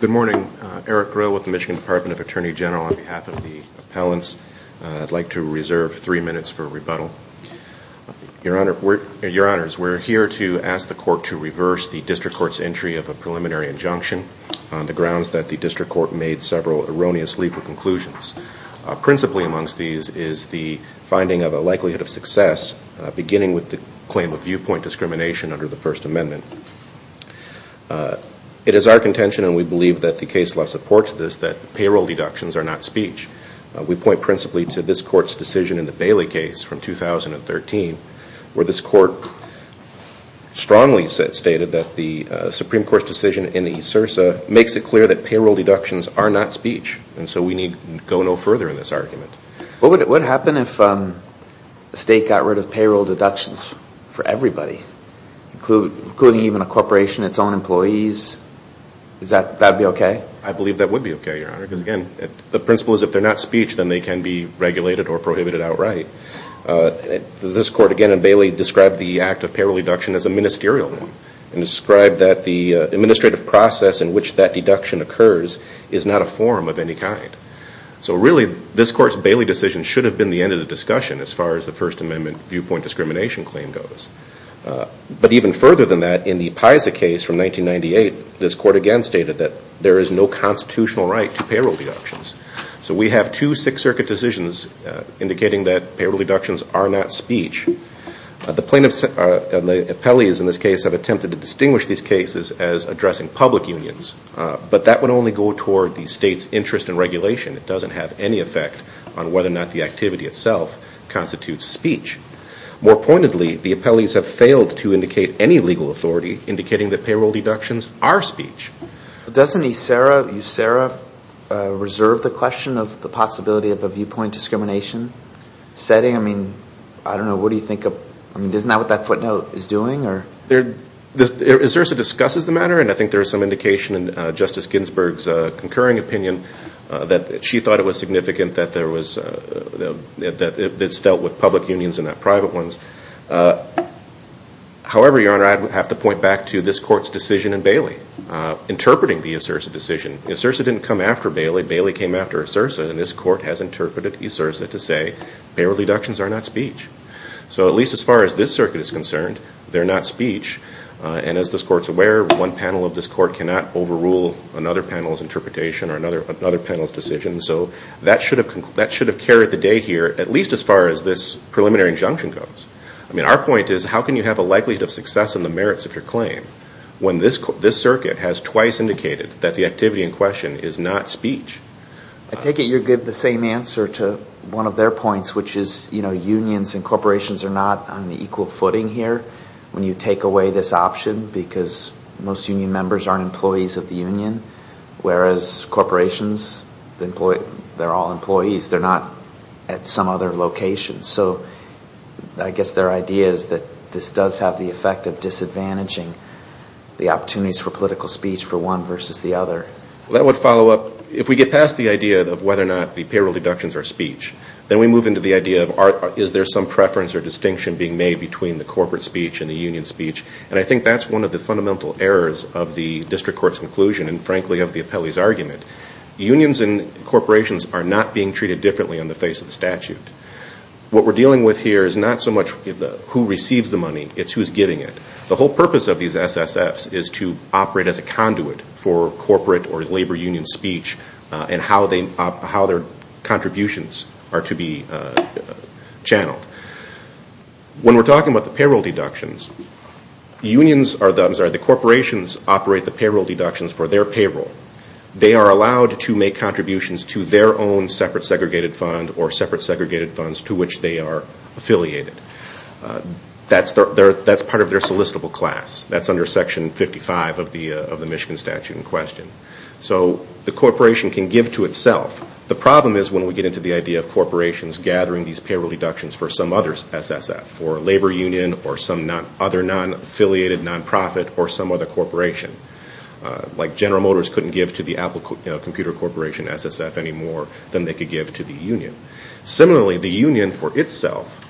Good morning, Eric Grill with the Michigan Department of Attorney General on behalf of the appellants. I'd like to reserve three minutes for rebuttal. Your Honor, we're here to ask the court to reverse the district court's entry of a preliminary injunction on the grounds that the district court made several erroneous legal conclusions. Principally amongst these is the finding of a likelihood of success beginning with the claim of viewpoint discrimination under the First Amendment. It is our contention and we believe that the case law supports this that payroll deductions are not speech. We point principally to this court's decision in the Bailey case from 2013 where this court strongly stated that the Supreme Court's decision in the ESRSA makes it clear that payroll deductions are not speech and so we need go no further in this argument. What would happen if the state got rid of payroll deductions for everybody, including even a corporation, its own employees? Would that be okay? I believe that would be okay, Your Honor, because again the principle is if they're not speech then they can be regulated or prohibited outright. This court again in Bailey described the act of payroll deduction as a ministerial one and described that the administrative process in which that deduction occurs is not a forum of any kind. So really this court's Bailey decision should have been the end of the discussion as far as the First Amendment viewpoint discrimination claim goes. But even further than that in the PISA case from 1998 this court again stated that there is no constitutional right to payroll deductions. So we have two Sixth Circuit decisions indicating that payroll deductions are not speech. The plaintiffs, the appellees in this case have attempted to distinguish these cases as addressing public unions, but that would only go toward the state's interest in regulation. It doesn't have any effect on whether or not the activity itself constitutes speech. More pointedly, the appellees have failed to indicate any legal authority indicating that payroll deductions are speech. Doesn't USERRA reserve the question of the possibility of a viewpoint discrimination setting? I mean, I don't know, what do you think of, isn't that what that footnote is doing? USERRA discusses the matter and I think there is some indication in Justice Ginsburg's concurring opinion that she thought it was significant that there was, that it's dealt with public unions and not private ones. However, Your Honor, I'd have to point back to this court's decision in Bailey, interpreting the USERRA decision. USERRA didn't come after Bailey, Bailey came after USERRA and this court has interpreted USERRA to say, payroll deductions are not speech. So at least as far as this circuit is concerned, they're not speech and as this court's aware, one panel of this court cannot overrule another panel's interpretation or another panel's decision, so that should have carried the day here, at least as far as this preliminary injunction comes. I mean, our point is, how can you have a likelihood of success in the merits of your claim, when this circuit has twice indicated that the activity in question is not speech? I take it you're giving the same answer to one of their points, which is, you know, unions and corporations are not on equal footing here, when you take away this option, because most union members aren't employees of the union, whereas corporations, they're all employees, they're not at some other location. So I guess their idea is that this does have the effect of disadvantaging the opportunities for political speech for one versus the other. That would follow up, if we get past the idea of whether or not the payroll deductions are speech, then we move into the idea of is there some preference or distinction being made between the corporate speech and the union speech, and I think that's one of the fundamental errors of the district court's conclusion and frankly of the appellee's argument. Unions and corporations are not being treated differently on the face of the statute. What we're dealing with here is not so much who receives the money, it's who's giving it. The whole purpose of these SSFs is to operate as a conduit for corporate or labor union speech and how their contributions are to be channeled. When we're talking about the payroll deductions, the corporations operate the payroll deductions for their payroll. They are allowed to make contributions to their own separate segregated fund or separate segregated funds to which they are affiliated. That's part of their solicitable class. That's under section 55 of the Michigan statute in question. So the corporation can give to itself. The problem is when we get into the idea of corporations gathering these payroll deductions for some other SSF, for a labor union or some other non-affiliated non-profit or some other corporation, like General Motors couldn't give to the Apple Computer Corporation SSF any more than they could give to the union. Similarly, the union for itself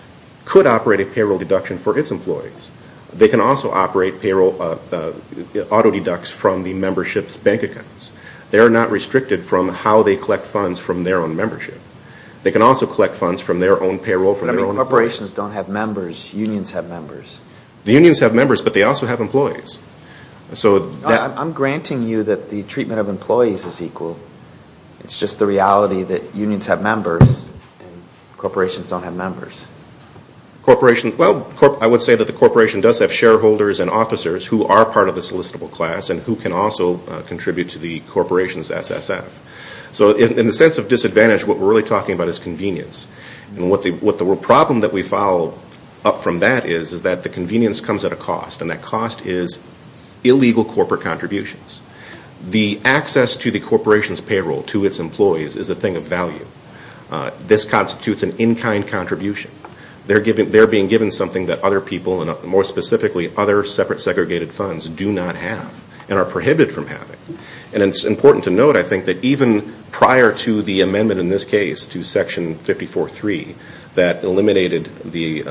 could operate a payroll deduction for its employees. They can also operate payroll auto-deducts from the membership's bank accounts. They are not restricted from how they collect funds from their own membership. They can also collect funds from their own payroll, from their own corporation. But corporations don't have members. Unions have members. The unions have members, but they also have employees. I'm granting you that the treatment of employees is equal. It's just the reality that unions have members and corporations don't have members. I would say that the corporation does have shareholders and officers who are part of the solicitable class and who can also contribute to the corporation's SSF. So in the sense of disadvantage, what we're really talking about is convenience. And what the problem that we follow up from that is, is that the convenience comes at a cost. And that cost is illegal corporate contributions. The access to the corporation's payroll to its employees is a thing of value. This constitutes an in-kind contribution. They're being given something that other people, and more specifically, other separate segregated funds do not have and are prohibited from having. And it's important to note, I think, that even prior to the amendment in this case to Section 54.3 that eliminated the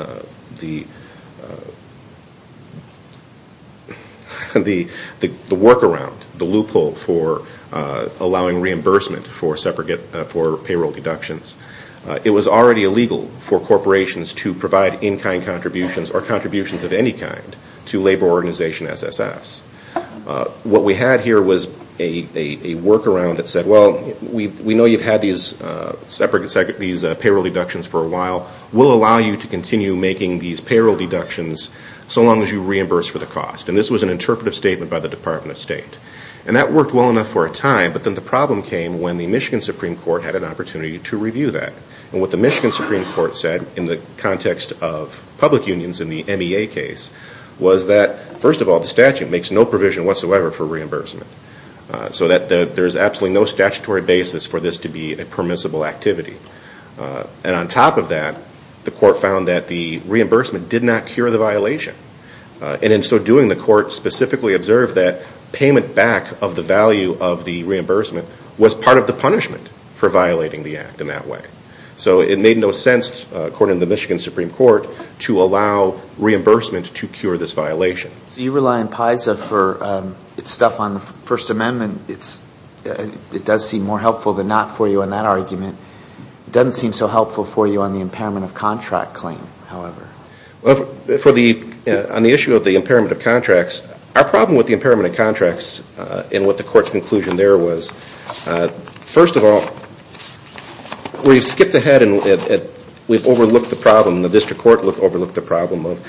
workaround, the loophole for allowing reimbursement for payroll deductions, it was already illegal for corporations to provide in-kind contributions or contributions of any kind to labor organization SSFs. What we had here was a workaround that said, well, we know you've had these payroll deductions for a while. We'll allow you to continue making these payroll deductions so long as you reimburse for the cost. And this was an interpretive statement by the Department of State. And that worked well enough for a time, but then the problem came when the Michigan Supreme Court had an opportunity to review that. And what the Michigan Supreme Court said in the for reimbursement. So that there's absolutely no statutory basis for this to be a permissible activity. And on top of that, the court found that the reimbursement did not cure the violation. And in so doing, the court specifically observed that payment back of the value of the reimbursement was part of the punishment for violating the act in that way. So it made no sense, according to the Michigan Supreme Court, to allow reimbursement to cure this violation. You rely on PISA for its stuff on the First Amendment. It does seem more helpful than not for you in that argument. It doesn't seem so helpful for you on the impairment of contract claim, however. On the issue of the impairment of contracts, our problem with the impairment of contracts and what the court's conclusion there was, first of all, we've skipped ahead and we've overlooked the problem. The district court overlooked the problem of,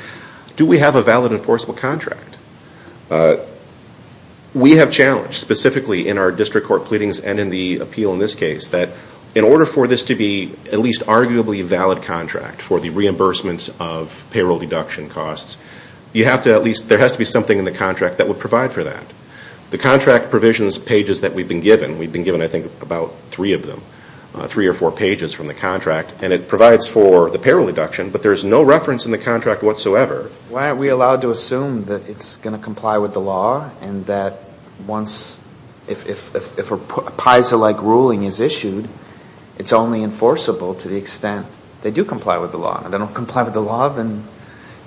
do we have a valid enforceable contract? We have challenged, specifically in our district court pleadings and in the appeal in this case, that in order for this to be at least arguably a valid contract for the reimbursement of payroll deduction costs, you have to at least, there has to be something in the contract that would provide for that. The contract provisions pages that we've been given, we've been given I think about three of them, three or four pages from the contract, and it provides for the payroll deduction, but there's no reference in the contract whatsoever. Why aren't we allowed to assume that it's going to comply with the law and that once, if a PISA-like ruling is issued, it's only enforceable to the extent they do comply with the law, and if they don't comply with the law, then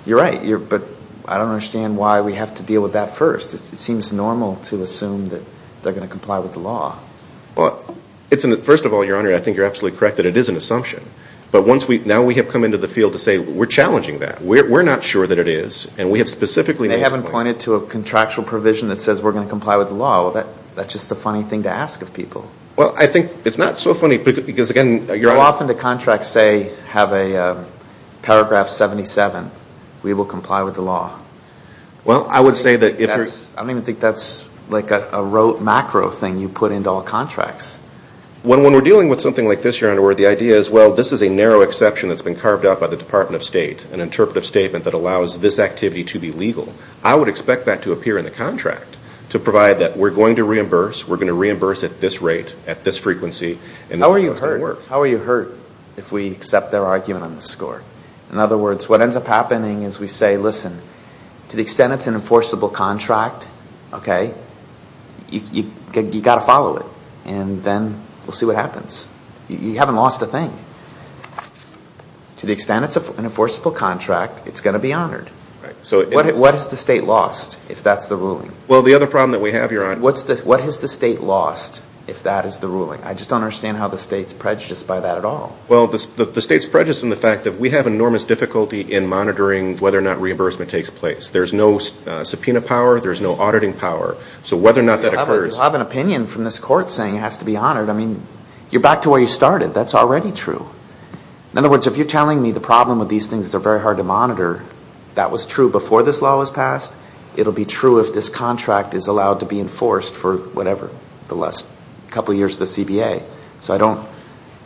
you're right, but I don't understand why we have to deal with that first. It seems normal to assume that they're going to comply with the law. First of all, Your Honor, I think you're absolutely correct that it is an assumption, but now we have come into the field to say we're challenging that. We're not sure that it is, and we have specifically made a point. They haven't pointed to a contractual provision that says we're going to comply with the law. That's just a funny thing to ask of people. Well, I think it's not so funny because, again, Your Honor... How often do contracts say, have a paragraph 77, we will comply with the law? Well, I would say that if you're... I don't even think that's like a rote macro thing you put into all contracts. When we're dealing with something like this, Your Honor, where the idea is, well, this is a narrow exception that's been carved out by the Department of State, an interpretive statement that allows this activity to be legal, I would expect that to appear in the contract to provide that we're going to reimburse, we're going to reimburse at this rate, at this frequency, and this is how it's going to work. How are you hurt if we accept their argument on the score? In other words, what ends up happening is we say, listen, to the extent it's an enforceable contract, okay, you've got to follow it, and then we'll see what happens. You haven't lost a thing. To the extent it's an enforceable contract, it's going to be honored. What has the state lost if that's the ruling? Well, the other problem that we have, Your Honor... What has the state lost if that is the ruling? I just don't understand how the state's prejudiced by that at all. Well, the state's prejudiced in the fact that we have enormous difficulty in monitoring whether or not reimbursement takes place. There's no subpoena power. There's no auditing power. So whether or not that occurs... Well, I have an opinion from this court saying it has to be honored. I mean, you're back to where you started. That's already true. In other words, if you're telling me the problem with these things is they're very hard to monitor, that was true before this law was passed. It'll be true if this contract is allowed to be enforced for whatever, the last couple of years of the CBA. So I don't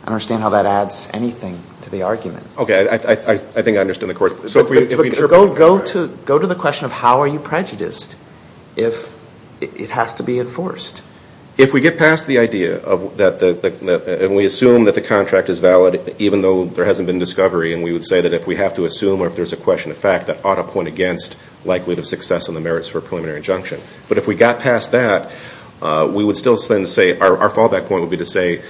understand how that adds anything to the argument. Okay. I think I understand the court. Go to the question of how are you prejudiced if it has to be enforced? If we get past the idea that we assume that the contract is valid even though there hasn't been discovery and we would say that if we have to assume or if there's a question of fact that ought to point against likelihood of success on the merits for a preliminary injunction. But if we got past that, we would still say, our fallback point would be to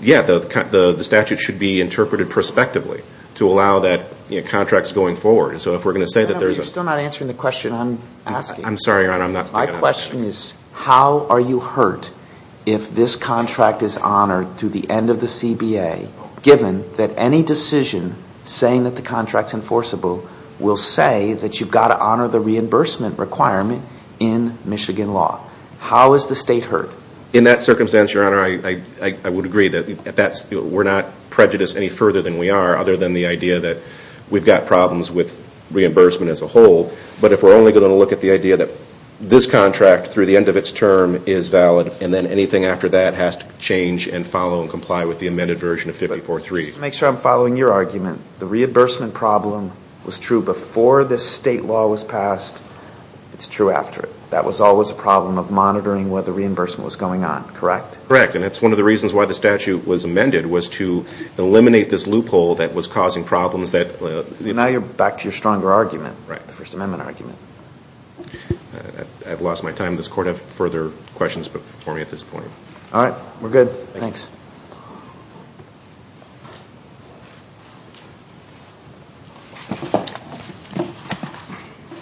the statute should be interpreted prospectively to allow that contracts going forward. And so if we're going to say that there's a... You're still not answering the question I'm asking. I'm sorry, Your Honor. I'm not... My question is how are you hurt if this contract is honored through the end of the CBA given that any decision saying that the contract's enforceable will say that you've got to honor the reimbursement requirement in Michigan law? How is the state hurt? In that circumstance, Your Honor, I would agree that we're not prejudiced any further than we are other than the idea that we've got problems with reimbursement as a whole. But if we're only going to look at the idea that this contract through the end of its term is valid and then anything after that has to change and follow and comply with the amended version of 54-3. Just to make sure I'm following your argument, the reimbursement problem was true before this state law was passed. It's true after it. That was always a problem of monitoring where the reimbursement was going on, correct? Correct. And that's one of the reasons why the statute was amended was to eliminate this loophole that was causing problems that... Now you're back to your stronger argument, the First Amendment argument. I've lost my time. Does the Court have further questions for me at this point? All right. We're good. Thanks.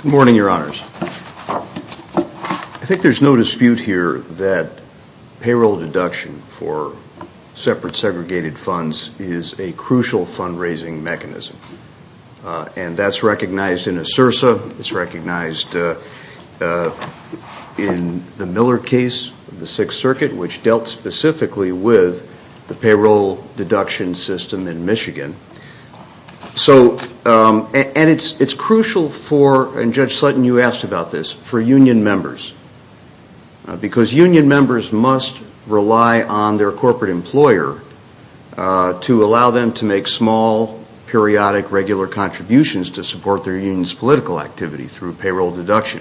Good morning, Your Honors. I think there's no dispute here that payroll deduction for separate segregated funds is a crucial fundraising mechanism. And that's recognized in ASERSA. It's recognized in the Miller case of the Sixth Circuit, which dealt specifically with the payroll deduction system in Michigan. And it's crucial for, and Judge Sutton, you asked about this, for union members. Because union members must rely on their corporate employer to allow them to make small, periodic, regular contributions to support their union's political activity through payroll deduction.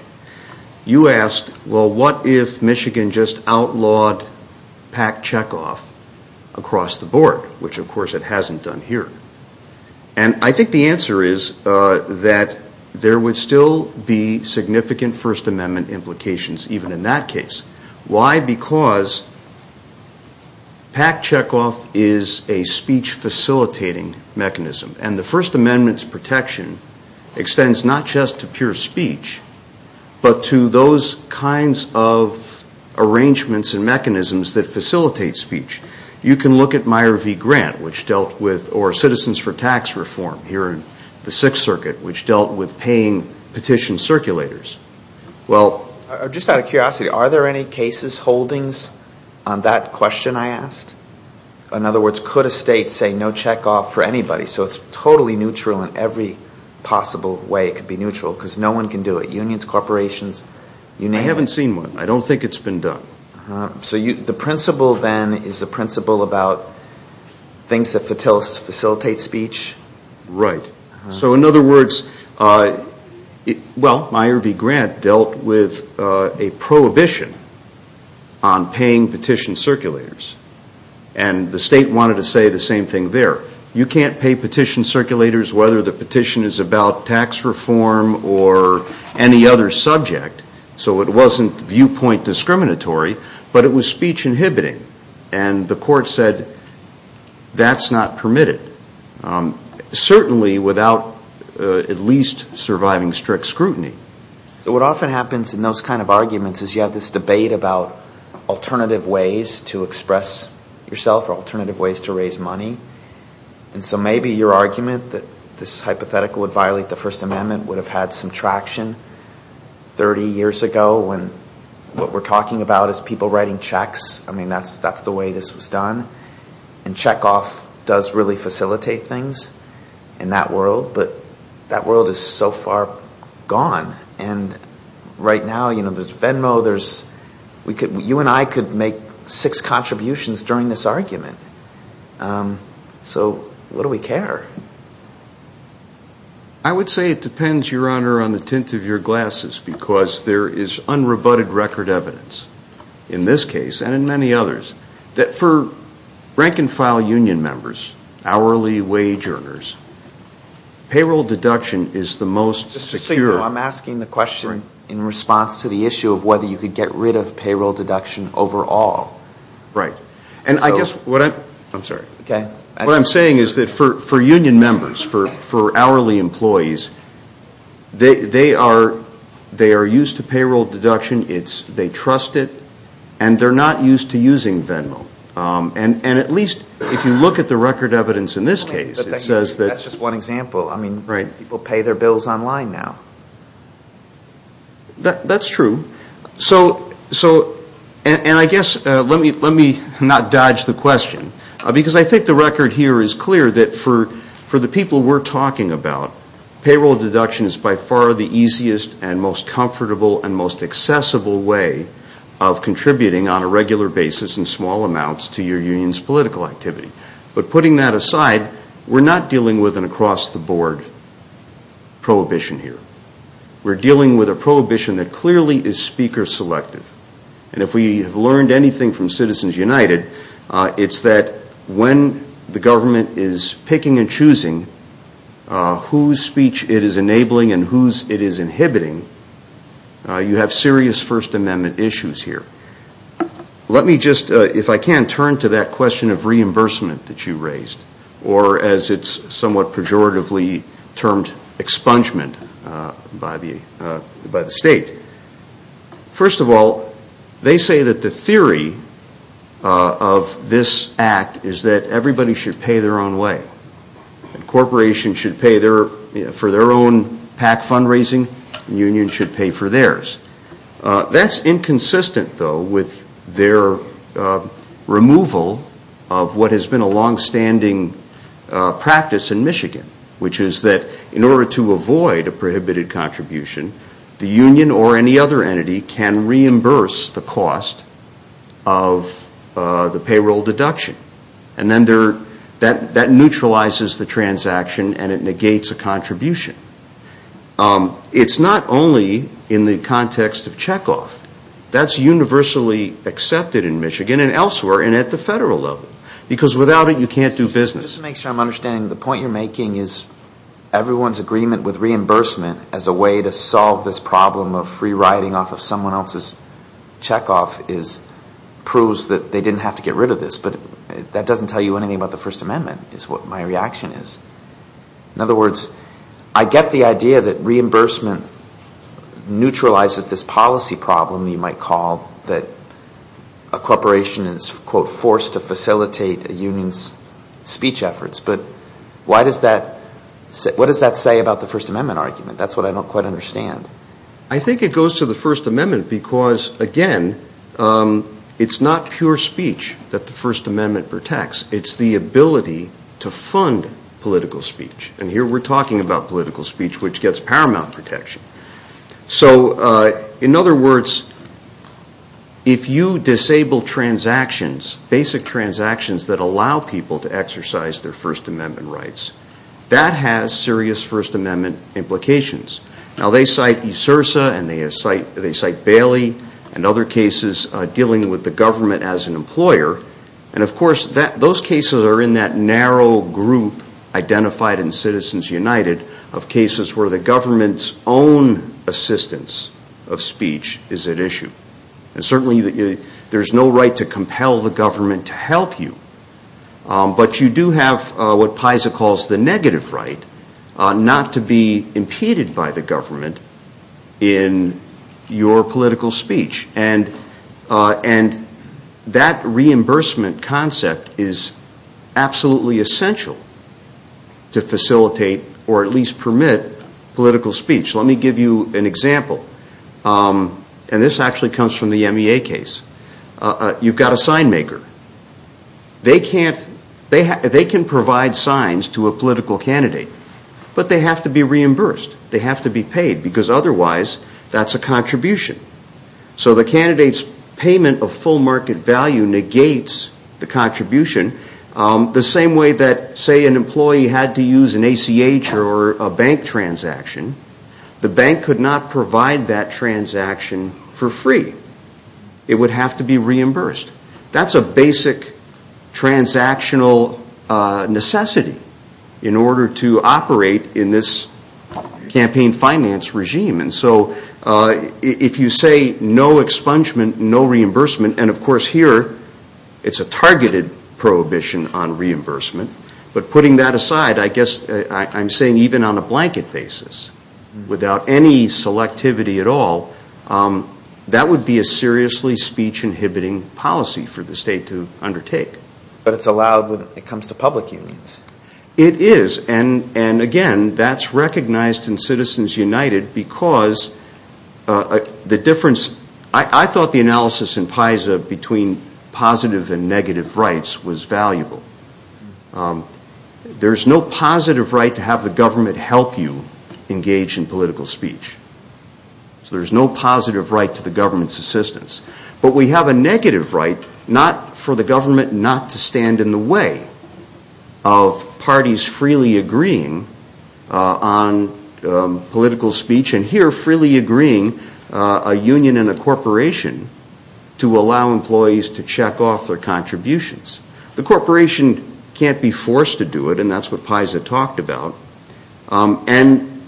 You asked, well, what if Michigan just outlawed PAC checkoff across the board, which of course it hasn't done here. And I think the answer is that there would still be significant First Amendment implications even in that case. Why? Because PAC checkoff is a speech facilitating mechanism. And the First Amendment's protection extends not just to pure speech, but to those kinds of arrangements and mechanisms that facilitate speech. You can look at Meyer v. Grant, which dealt with, or Citizens for Tax Reform here in the Sixth Circuit, which dealt with paying petition circulators. Well, just out of curiosity, are there any cases holdings on that question I asked? In particular, I don't remember anybody. So it's totally neutral in every possible way it could be neutral, because no one can do it. Unions, corporations, you name it. I haven't seen one. I don't think it's been done. So the principle then is the principle about things that facilitate speech? Right. So in other words, well, Meyer v. Grant dealt with a prohibition on paying petition circulators. And the state wanted to say the same thing there. You can't pay petition circulators whether the petition is about tax reform or any other subject. So it wasn't viewpoint discriminatory, but it was speech inhibiting. And the court said that's not permitted. Certainly without at least surviving strict scrutiny. What often happens in those kinds of arguments is you have this debate about alternative ways to express yourself or alternative ways to raise money. And so maybe your argument that this hypothetical would violate the First Amendment would have had some traction 30 years ago when what we're talking about is people writing checks. I mean, that's the way this was done. And checkoff does really facilitate things in that world. But that world is so far gone. And right now, you know, there's Venmo, there's, you and I could make six contributions during this argument. So what do we care? I would say it depends, Your Honor, on the tint of your glasses because there is unrebutted record evidence in this case and in many others that for rank and file union members, hourly wage earners, payroll deduction is the most secure. Just so you know, I'm asking the question in response to the issue of whether you could get rid of payroll deduction overall. And I guess what I'm saying is that for union members, for hourly employees, they are used to payroll deduction. They trust it. And they're not used to using Venmo. And at least if you look at the record evidence in this case, it says that... That's just one example. I mean, people pay their bills online now. That's true. So, and I guess, let me not dodge the question because I think the record here is clear that for the people we're talking about, payroll deduction is by far the easiest and most comfortable and most accessible way of contributing on a regular basis in small amounts to your union's political activity. But putting that aside, we're not dealing with an across-the-board prohibition here. We're dealing with a prohibition that clearly is speaker-selective. And if we have learned anything from Citizens United, it's that when the government is picking and choosing whose speech it is enabling and whose it is inhibiting, you have serious First Amendment issues here. Let me just, if I can, turn to that question of reimbursement that you raised, or as it's somewhat pejoratively termed expungement by the state. First of all, they say that the theory of this act is that everybody should pay their own way. Corporations should pay for their own PAC fundraising. Unions should pay for theirs. That's inconsistent, though, with their removal of what has been a longstanding practice in Michigan, which is that in order to avoid a prohibited contribution, the union or any other entity can reimburse the cost of the payroll deduction. And then that neutralizes the transaction and it negates a contribution. It's not only in the context of checkoff. That's universally accepted in Michigan and elsewhere and at the federal level. Because without it, you can't do business. Just to make sure I'm understanding, the point you're making is everyone's agreement with reimbursement as a way to solve this problem of free-riding off of someone else's checkoff is proves that they didn't have to get rid of this. But that doesn't tell you anything about the First Amendment is what my reaction is. In other words, I get the idea that reimbursement neutralizes this policy problem you might call that a corporation is, quote, forced to facilitate a union's speech efforts. But what does that say about the First Amendment argument? That's what I don't quite understand. I think it goes to the First Amendment because, again, it's not pure speech that the First Amendment protects. It's the ability to fund political speech. And here we're talking about political speech, which gets paramount protection. So in other words, if you disable transactions, basic transactions that allow people to exercise their First Amendment rights, that has serious First Amendment implications. Now, they cite ESRSA and they cite Bailey and other cases dealing with the government as an employer. And of course, those cases are in that narrow group identified in Citizens United of cases where the government's own assistance of speech is at issue. And certainly, there's no right to compel the government to help you. But you do have what PISA calls the negative right not to be impeded by the government in your political speech. And that reimbursement concept is absolutely essential to facilitate or at least permit political speech. Let me give you an example. And this actually comes from the MEA case. You've got a sign maker. They can provide signs to a political candidate, but they have to be reimbursed. They have to be paid because otherwise, that's a contribution. So the candidate's payment of full market value negates the contribution the same way that, say, an employee had to use an ACH or a bank transaction. The bank could not provide that transaction for free. It would have to be reimbursed. That's a basic transactional necessity in order to operate in this campaign finance regime. And so, if you say no expungement, no reimbursement, and of course here, it's a targeted prohibition on reimbursement. But if you say no expungement, no reimbursement, no reimbursement, no reimbursement at all, that would be a seriously speech inhibiting policy for the state to undertake. But it's allowed when it comes to public unions. It is. And again, that's recognized in Citizens United because the difference, I thought the analysis in PISA between positive and negative rights was valuable. There's no positive right to have the government help you engage in political speech. So there's no positive right to the government's assistance. But we have a negative right, not for the government not to stand in the way of parties freely agreeing on political speech and here freely agreeing a union and a corporation to allow employees to check off their contributions. The corporation can't be forced to do it, and that's what PISA talked about. And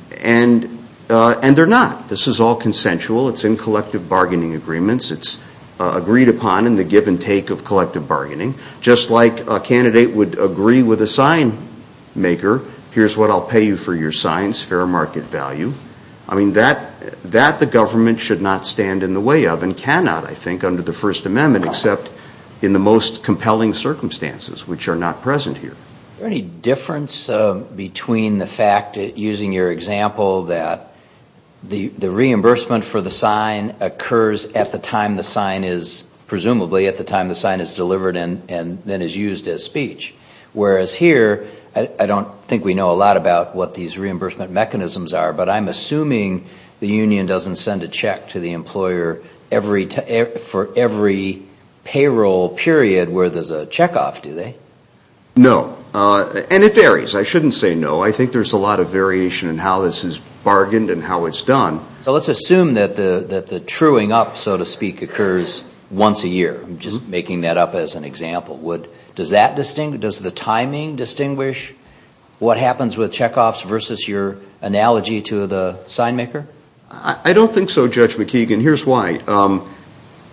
they're not. This is all consensual. It's in collective bargaining agreements. It's agreed upon in the give and take of collective bargaining. Just like a candidate would agree with a sign maker, here's what I'll pay you for your signs, fair market value. I mean, that the government should not stand in the way of and cannot, I think, under the First Amendment except in the most cases, if they're not present here. Is there any difference between the fact, using your example, that the reimbursement for the sign occurs at the time the sign is, presumably, at the time the sign is delivered and then is used as speech? Whereas here, I don't think we know a lot about what these reimbursement mechanisms are, but I'm assuming the union doesn't send a check to the employer for every payroll period where there's a check off, do they? No. And it varies. I shouldn't say no. I think there's a lot of variation in how this is bargained and how it's done. So let's assume that the truing up, so to speak, occurs once a year. I'm just making that up as an example. Does the timing distinguish what happens with check offs versus your analogy to the sign maker? I don't think so, Judge McKeegan. Here's why.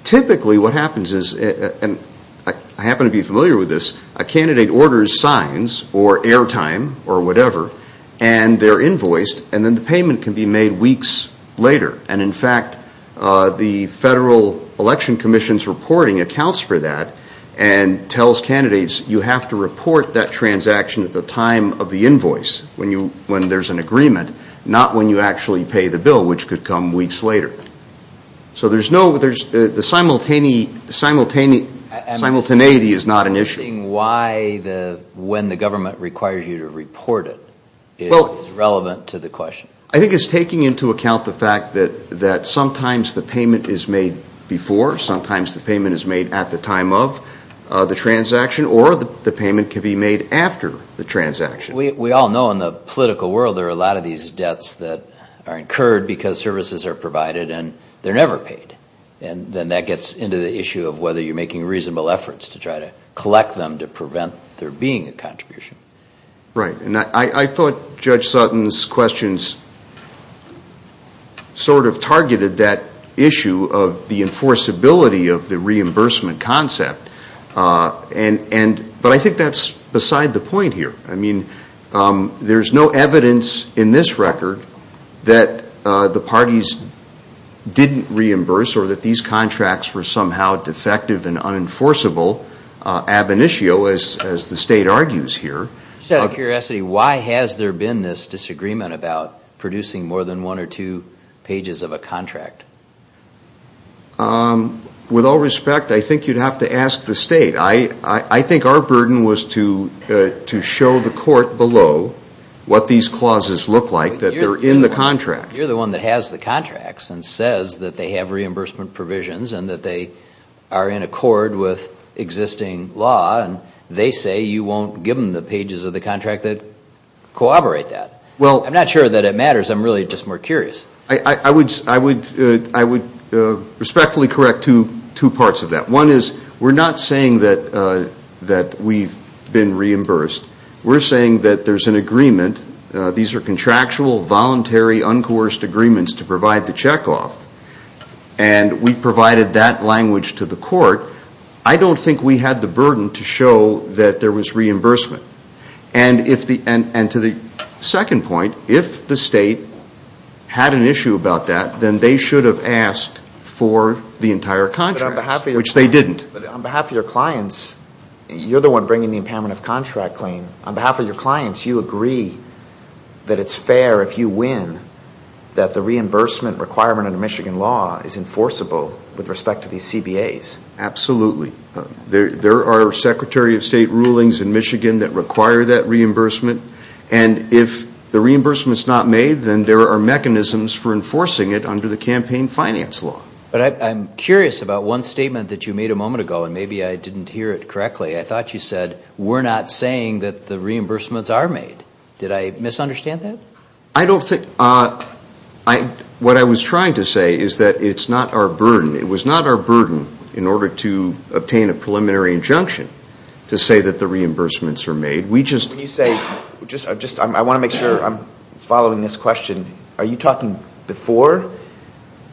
Typically, what happens is, and I happen to be familiar with this, a candidate orders signs or airtime or whatever and they're invoiced and then the payment can be made weeks later. And in fact, the Federal Election Commission's reporting accounts for that and tells candidates, you have to report that transaction at the time of the invoice, when there's an agreement, not when you actually pay the bill, which could come weeks later. So there's no, the simultaneity is not an issue. I'm just wondering why the, when the government requires you to report it is relevant to the question. I think it's taking into account the fact that sometimes the payment is made before, sometimes the payment is made at the time of the transaction or the payment can be made after the transaction. We all know in the political world there are a lot of these debts that are incurred because services are provided and they're never paid. And then that gets into the issue of whether you're making reasonable efforts to try to collect them to prevent there being a contribution. Right. And I thought Judge Sutton's questions sort of targeted that issue of the enforceability of the reimbursement concept. And, but I think that's beside the point here. I mean, there's no evidence in this record that the parties didn't reimburse or that these contracts were somehow defective and unenforceable ab initio, as the state argues here. Just out of curiosity, why has there been this disagreement about producing more than one or two pages of a contract? With all respect, I think you'd have to ask the state. I think our burden was to show the court below what these clauses look like that they're in the contract. You're the one that has the contracts and says that they have reimbursement provisions and that they are in accord with existing law and they say you won't give them the pages of the contract that corroborate that. Well I'm not sure that it matters. I'm really just more curious. I would respectfully correct two parts of that. One is we're not saying that we've been reimbursed. We're saying that there's an agreement. These are contractual, voluntary, uncoerced agreements to provide the checkoff. And we provided that language to the court. I don't think we had the burden to show that there was reimbursement. And to the second point, if the state had an issue about that, then they should have asked for the entire contract, which they didn't. But on behalf of your clients, you're the one bringing the impairment of contract claim. On behalf of your clients, you agree that it's fair if you win that the reimbursement requirement under Michigan law is enforceable with respect to these CBAs. Absolutely. There are Secretary of State rulings in Michigan that require that reimbursement. And if the reimbursement's not made, then there are mechanisms for enforcing it under the campaign finance law. But I'm curious about one statement that you made a moment ago, and maybe I didn't hear it correctly. I thought you said, we're not saying that the reimbursements are made. Did I misunderstand that? I don't think. What I was trying to say is that it's not our burden. It was not our burden in order to obtain a preliminary injunction to say that the reimbursements are made. We just When you say, I want to make sure I'm following this question. Are you talking before?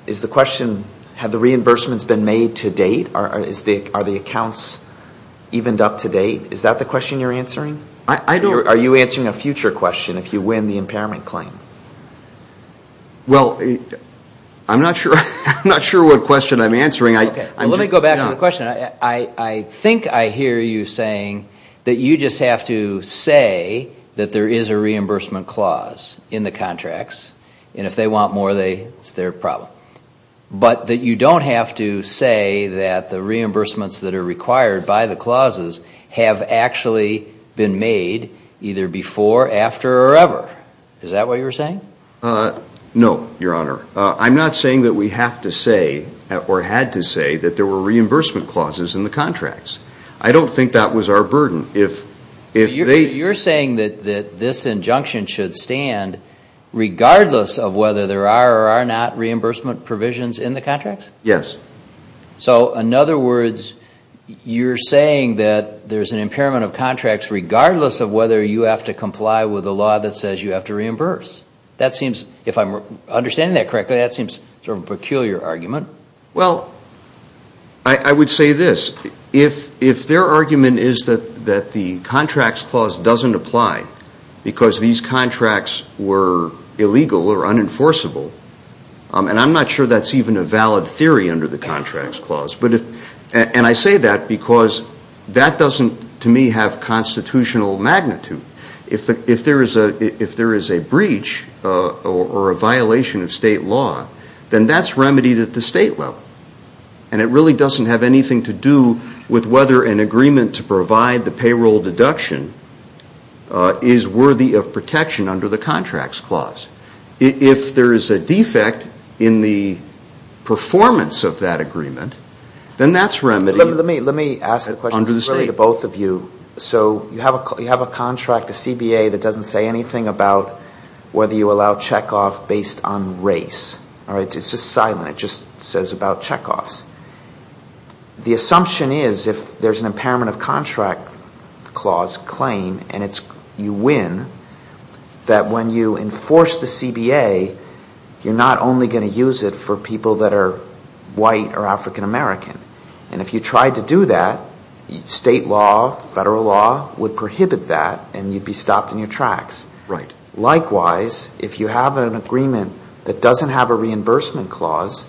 Is the question, have the reimbursements been made to date? Are the accounts evened up to date? Is that the question you're answering? Are you answering a future question if you win the impairment claim? Well, I'm not sure what question I'm answering. Well, let me go back to the question. I think I hear you saying that you just have to say that there is a reimbursement clause in the contracts, and if they want more, it's their problem. But that you don't have to say that the reimbursements that are required by the clauses have actually been made either before, after, or ever. Is that what you were saying? No, Your Honor. I'm not saying that we have to say, or had to say, that there were reimbursement clauses in the contracts. I don't think that was our burden. So you're saying that this injunction should stand regardless of whether there are or are not reimbursement provisions in the contracts? Yes. So in other words, you're saying that there's an impairment of contracts regardless of whether you have to comply with a law that says you have to reimburse. If I'm understanding that correctly, that seems sort of a peculiar argument. Well, I would say this. If their argument is that the contracts clause doesn't apply because these contracts were illegal or unenforceable, and I'm not sure that's even a valid theory under the contracts clause, and I say that because that doesn't, to me, have constitutional magnitude. If there is a breach or a violation of state law, then that's remedied at the state level. And it really doesn't have anything to do with whether an agreement to provide the payroll deduction is worthy of protection under the contracts clause. If there is a defect in the performance of that agreement, then that's remedied under the state law. So you have a contract, a CBA, that doesn't say anything about whether you allow checkoff based on race. It's just silent. It just says about checkoffs. The assumption is if there's an impairment of contract clause claim, and you win, that when you enforce the CBA, you're not only going to use it for people that are white or African American. And if you tried to do that, state law, federal law, would prohibit that, and you'd be stopped in your tracks. Likewise, if you have an agreement that doesn't have a reimbursement clause,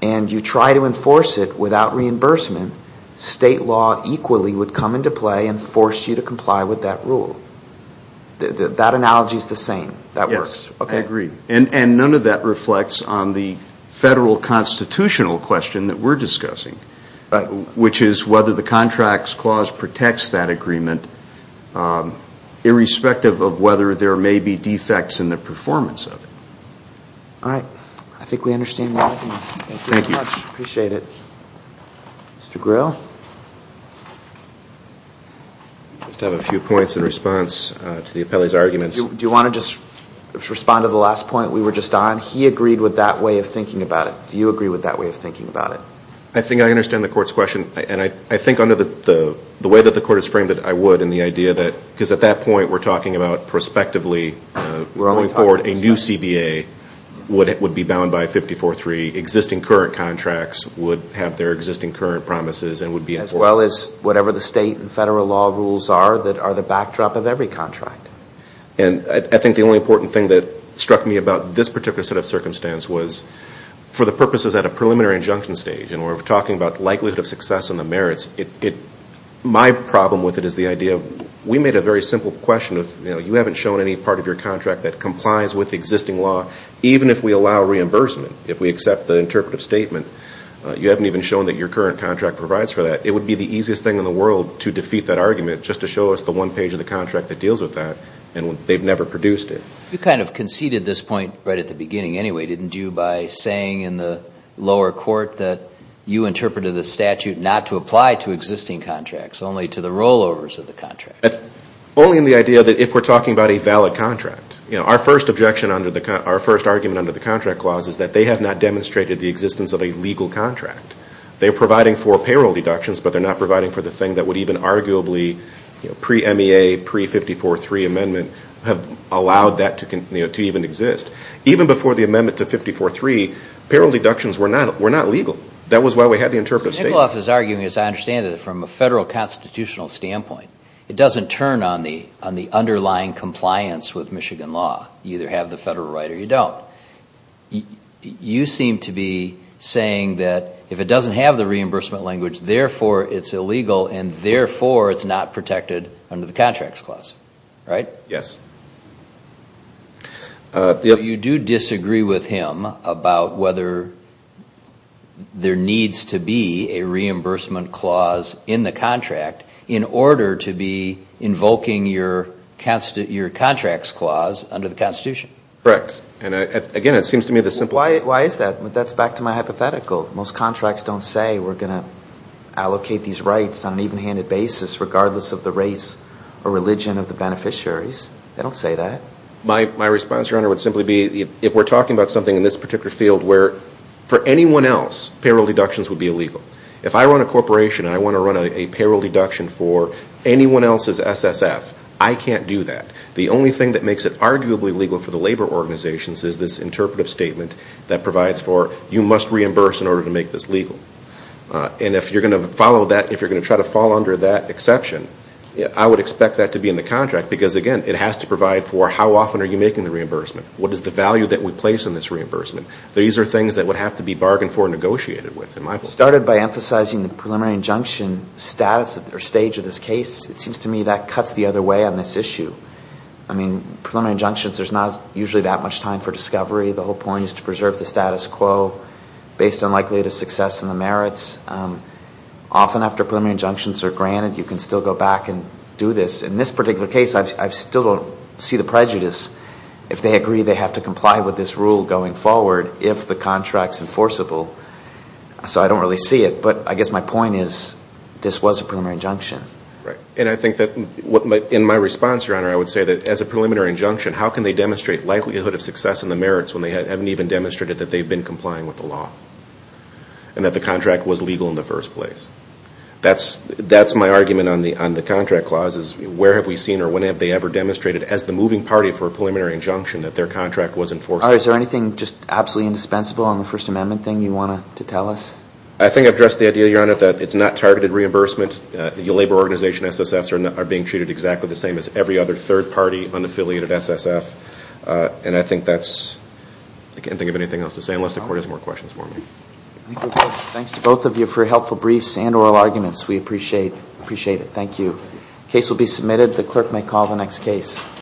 and you try to enforce it without reimbursement, state law equally would come into play and force you to comply with that rule. That analogy is the same. That works. Yes. I agree. And none of that reflects on the federal constitutional question that we're talking about, which is whether the contracts clause protects that agreement, irrespective of whether there may be defects in the performance of it. All right. I think we understand that. Thank you very much. Appreciate it. Mr. Gryll? I just have a few points in response to the appellee's arguments. Do you want to just respond to the last point we were just on? He agreed with that way of thinking about it. Do you agree with that way of thinking about it? I think I understand the court's question, and I think under the way that the court has framed it, I would, in the idea that, because at that point, we're talking about prospectively going forward, a new CBA would be bound by 54-3. Existing current contracts would have their existing current promises and would be enforced. As well as whatever the state and federal law rules are that are the backdrop of every contract. And I think the only important thing that struck me about this particular set of circumstance was for the purposes at a preliminary injunction stage, and we're talking about likelihood of success and the merits. My problem with it is the idea of, we made a very simple question of, you know, you haven't shown any part of your contract that complies with existing law, even if we allow reimbursement. If we accept the interpretive statement, you haven't even shown that your current contract provides for that. It would be the easiest thing in the world to defeat that argument just to show us the one page of the contract that deals with that, and they've never produced it. You kind of conceded this point right at the beginning anyway, didn't you, by saying in the lower court that you interpreted the statute not to apply to existing contracts, only to the rollovers of the contract? Only in the idea that if we're talking about a valid contract. You know, our first objection under the, our first argument under the contract clause is that they have not demonstrated the existence of a legal contract. They're providing for payroll deductions, but they're not providing for the thing that would even arguably, you know, pre-MEA, pre-54.3 amendment have allowed that to, you know, to even exist. Even before the amendment to 54.3, payroll deductions were not legal. That was why we had the interpretive statement. So Nikoloff is arguing, as I understand it, from a federal constitutional standpoint, it doesn't turn on the underlying compliance with Michigan law. You either have the federal right or you don't. You seem to be saying that if it doesn't have the reimbursement language, therefore it's illegal, and therefore it's not protected under the contracts clause, right? Yes. So you do disagree with him about whether there needs to be a reimbursement clause in the contract in order to be invoking your contracts clause under the Constitution? Correct. And again, it seems to me the simple... Why is that? That's back to my hypothetical. Most contracts don't say we're going to allocate these rights on an even-handed basis regardless of the race or religion of the beneficiaries. They don't say that. My response, Your Honor, would simply be if we're talking about something in this particular field where for anyone else, payroll deductions would be illegal. If I run a corporation and I want to run a payroll deduction for anyone else's SSF, I can't do that. The only thing that makes it arguably legal for the labor organizations is this interpretive statement that provides for you must reimburse in order to make this legal. And if you're going to follow that, if you're going to try to fall under that exception, I would expect that to be in the contract because, again, it has to provide for how often are you making the reimbursement? What is the value that we place in this reimbursement? These are things that would have to be bargained for and negotiated with, in my opinion. Started by emphasizing the preliminary injunction status or stage of this case, it seems to me that cuts the other way on this issue. I mean, preliminary injunctions, there's not usually that much time for discovery, the whole point is to preserve the status quo based on likelihood of success and the merits. Often after preliminary injunctions are granted, you can still go back and do this. In this particular case, I still don't see the prejudice. If they agree, they have to comply with this rule going forward if the contract's enforceable. So I don't really see it. But I guess my point is this was a preliminary injunction. And I think that in my response, Your Honor, I would say that as a preliminary injunction, how can they demonstrate likelihood of success and the merits when they haven't even demonstrated that they've been complying with the law and that the contract was legal in the first place? That's my argument on the contract clauses. Where have we seen or when have they ever demonstrated as the moving party for a preliminary injunction that their contract was enforceable? Is there anything just absolutely indispensable on the First Amendment thing you want to tell us? I think I've addressed the idea, Your Honor, that it's not targeted reimbursement. Labor organization SSFs are being treated exactly the same as every other third party unaffiliated SSF. And I think that's, I can't think of anything else to say unless the Court has more questions for me. I think we're good. Thanks to both of you for helpful briefs and oral arguments. We appreciate it. Thank you. Case will be submitted. The clerk may call the next case.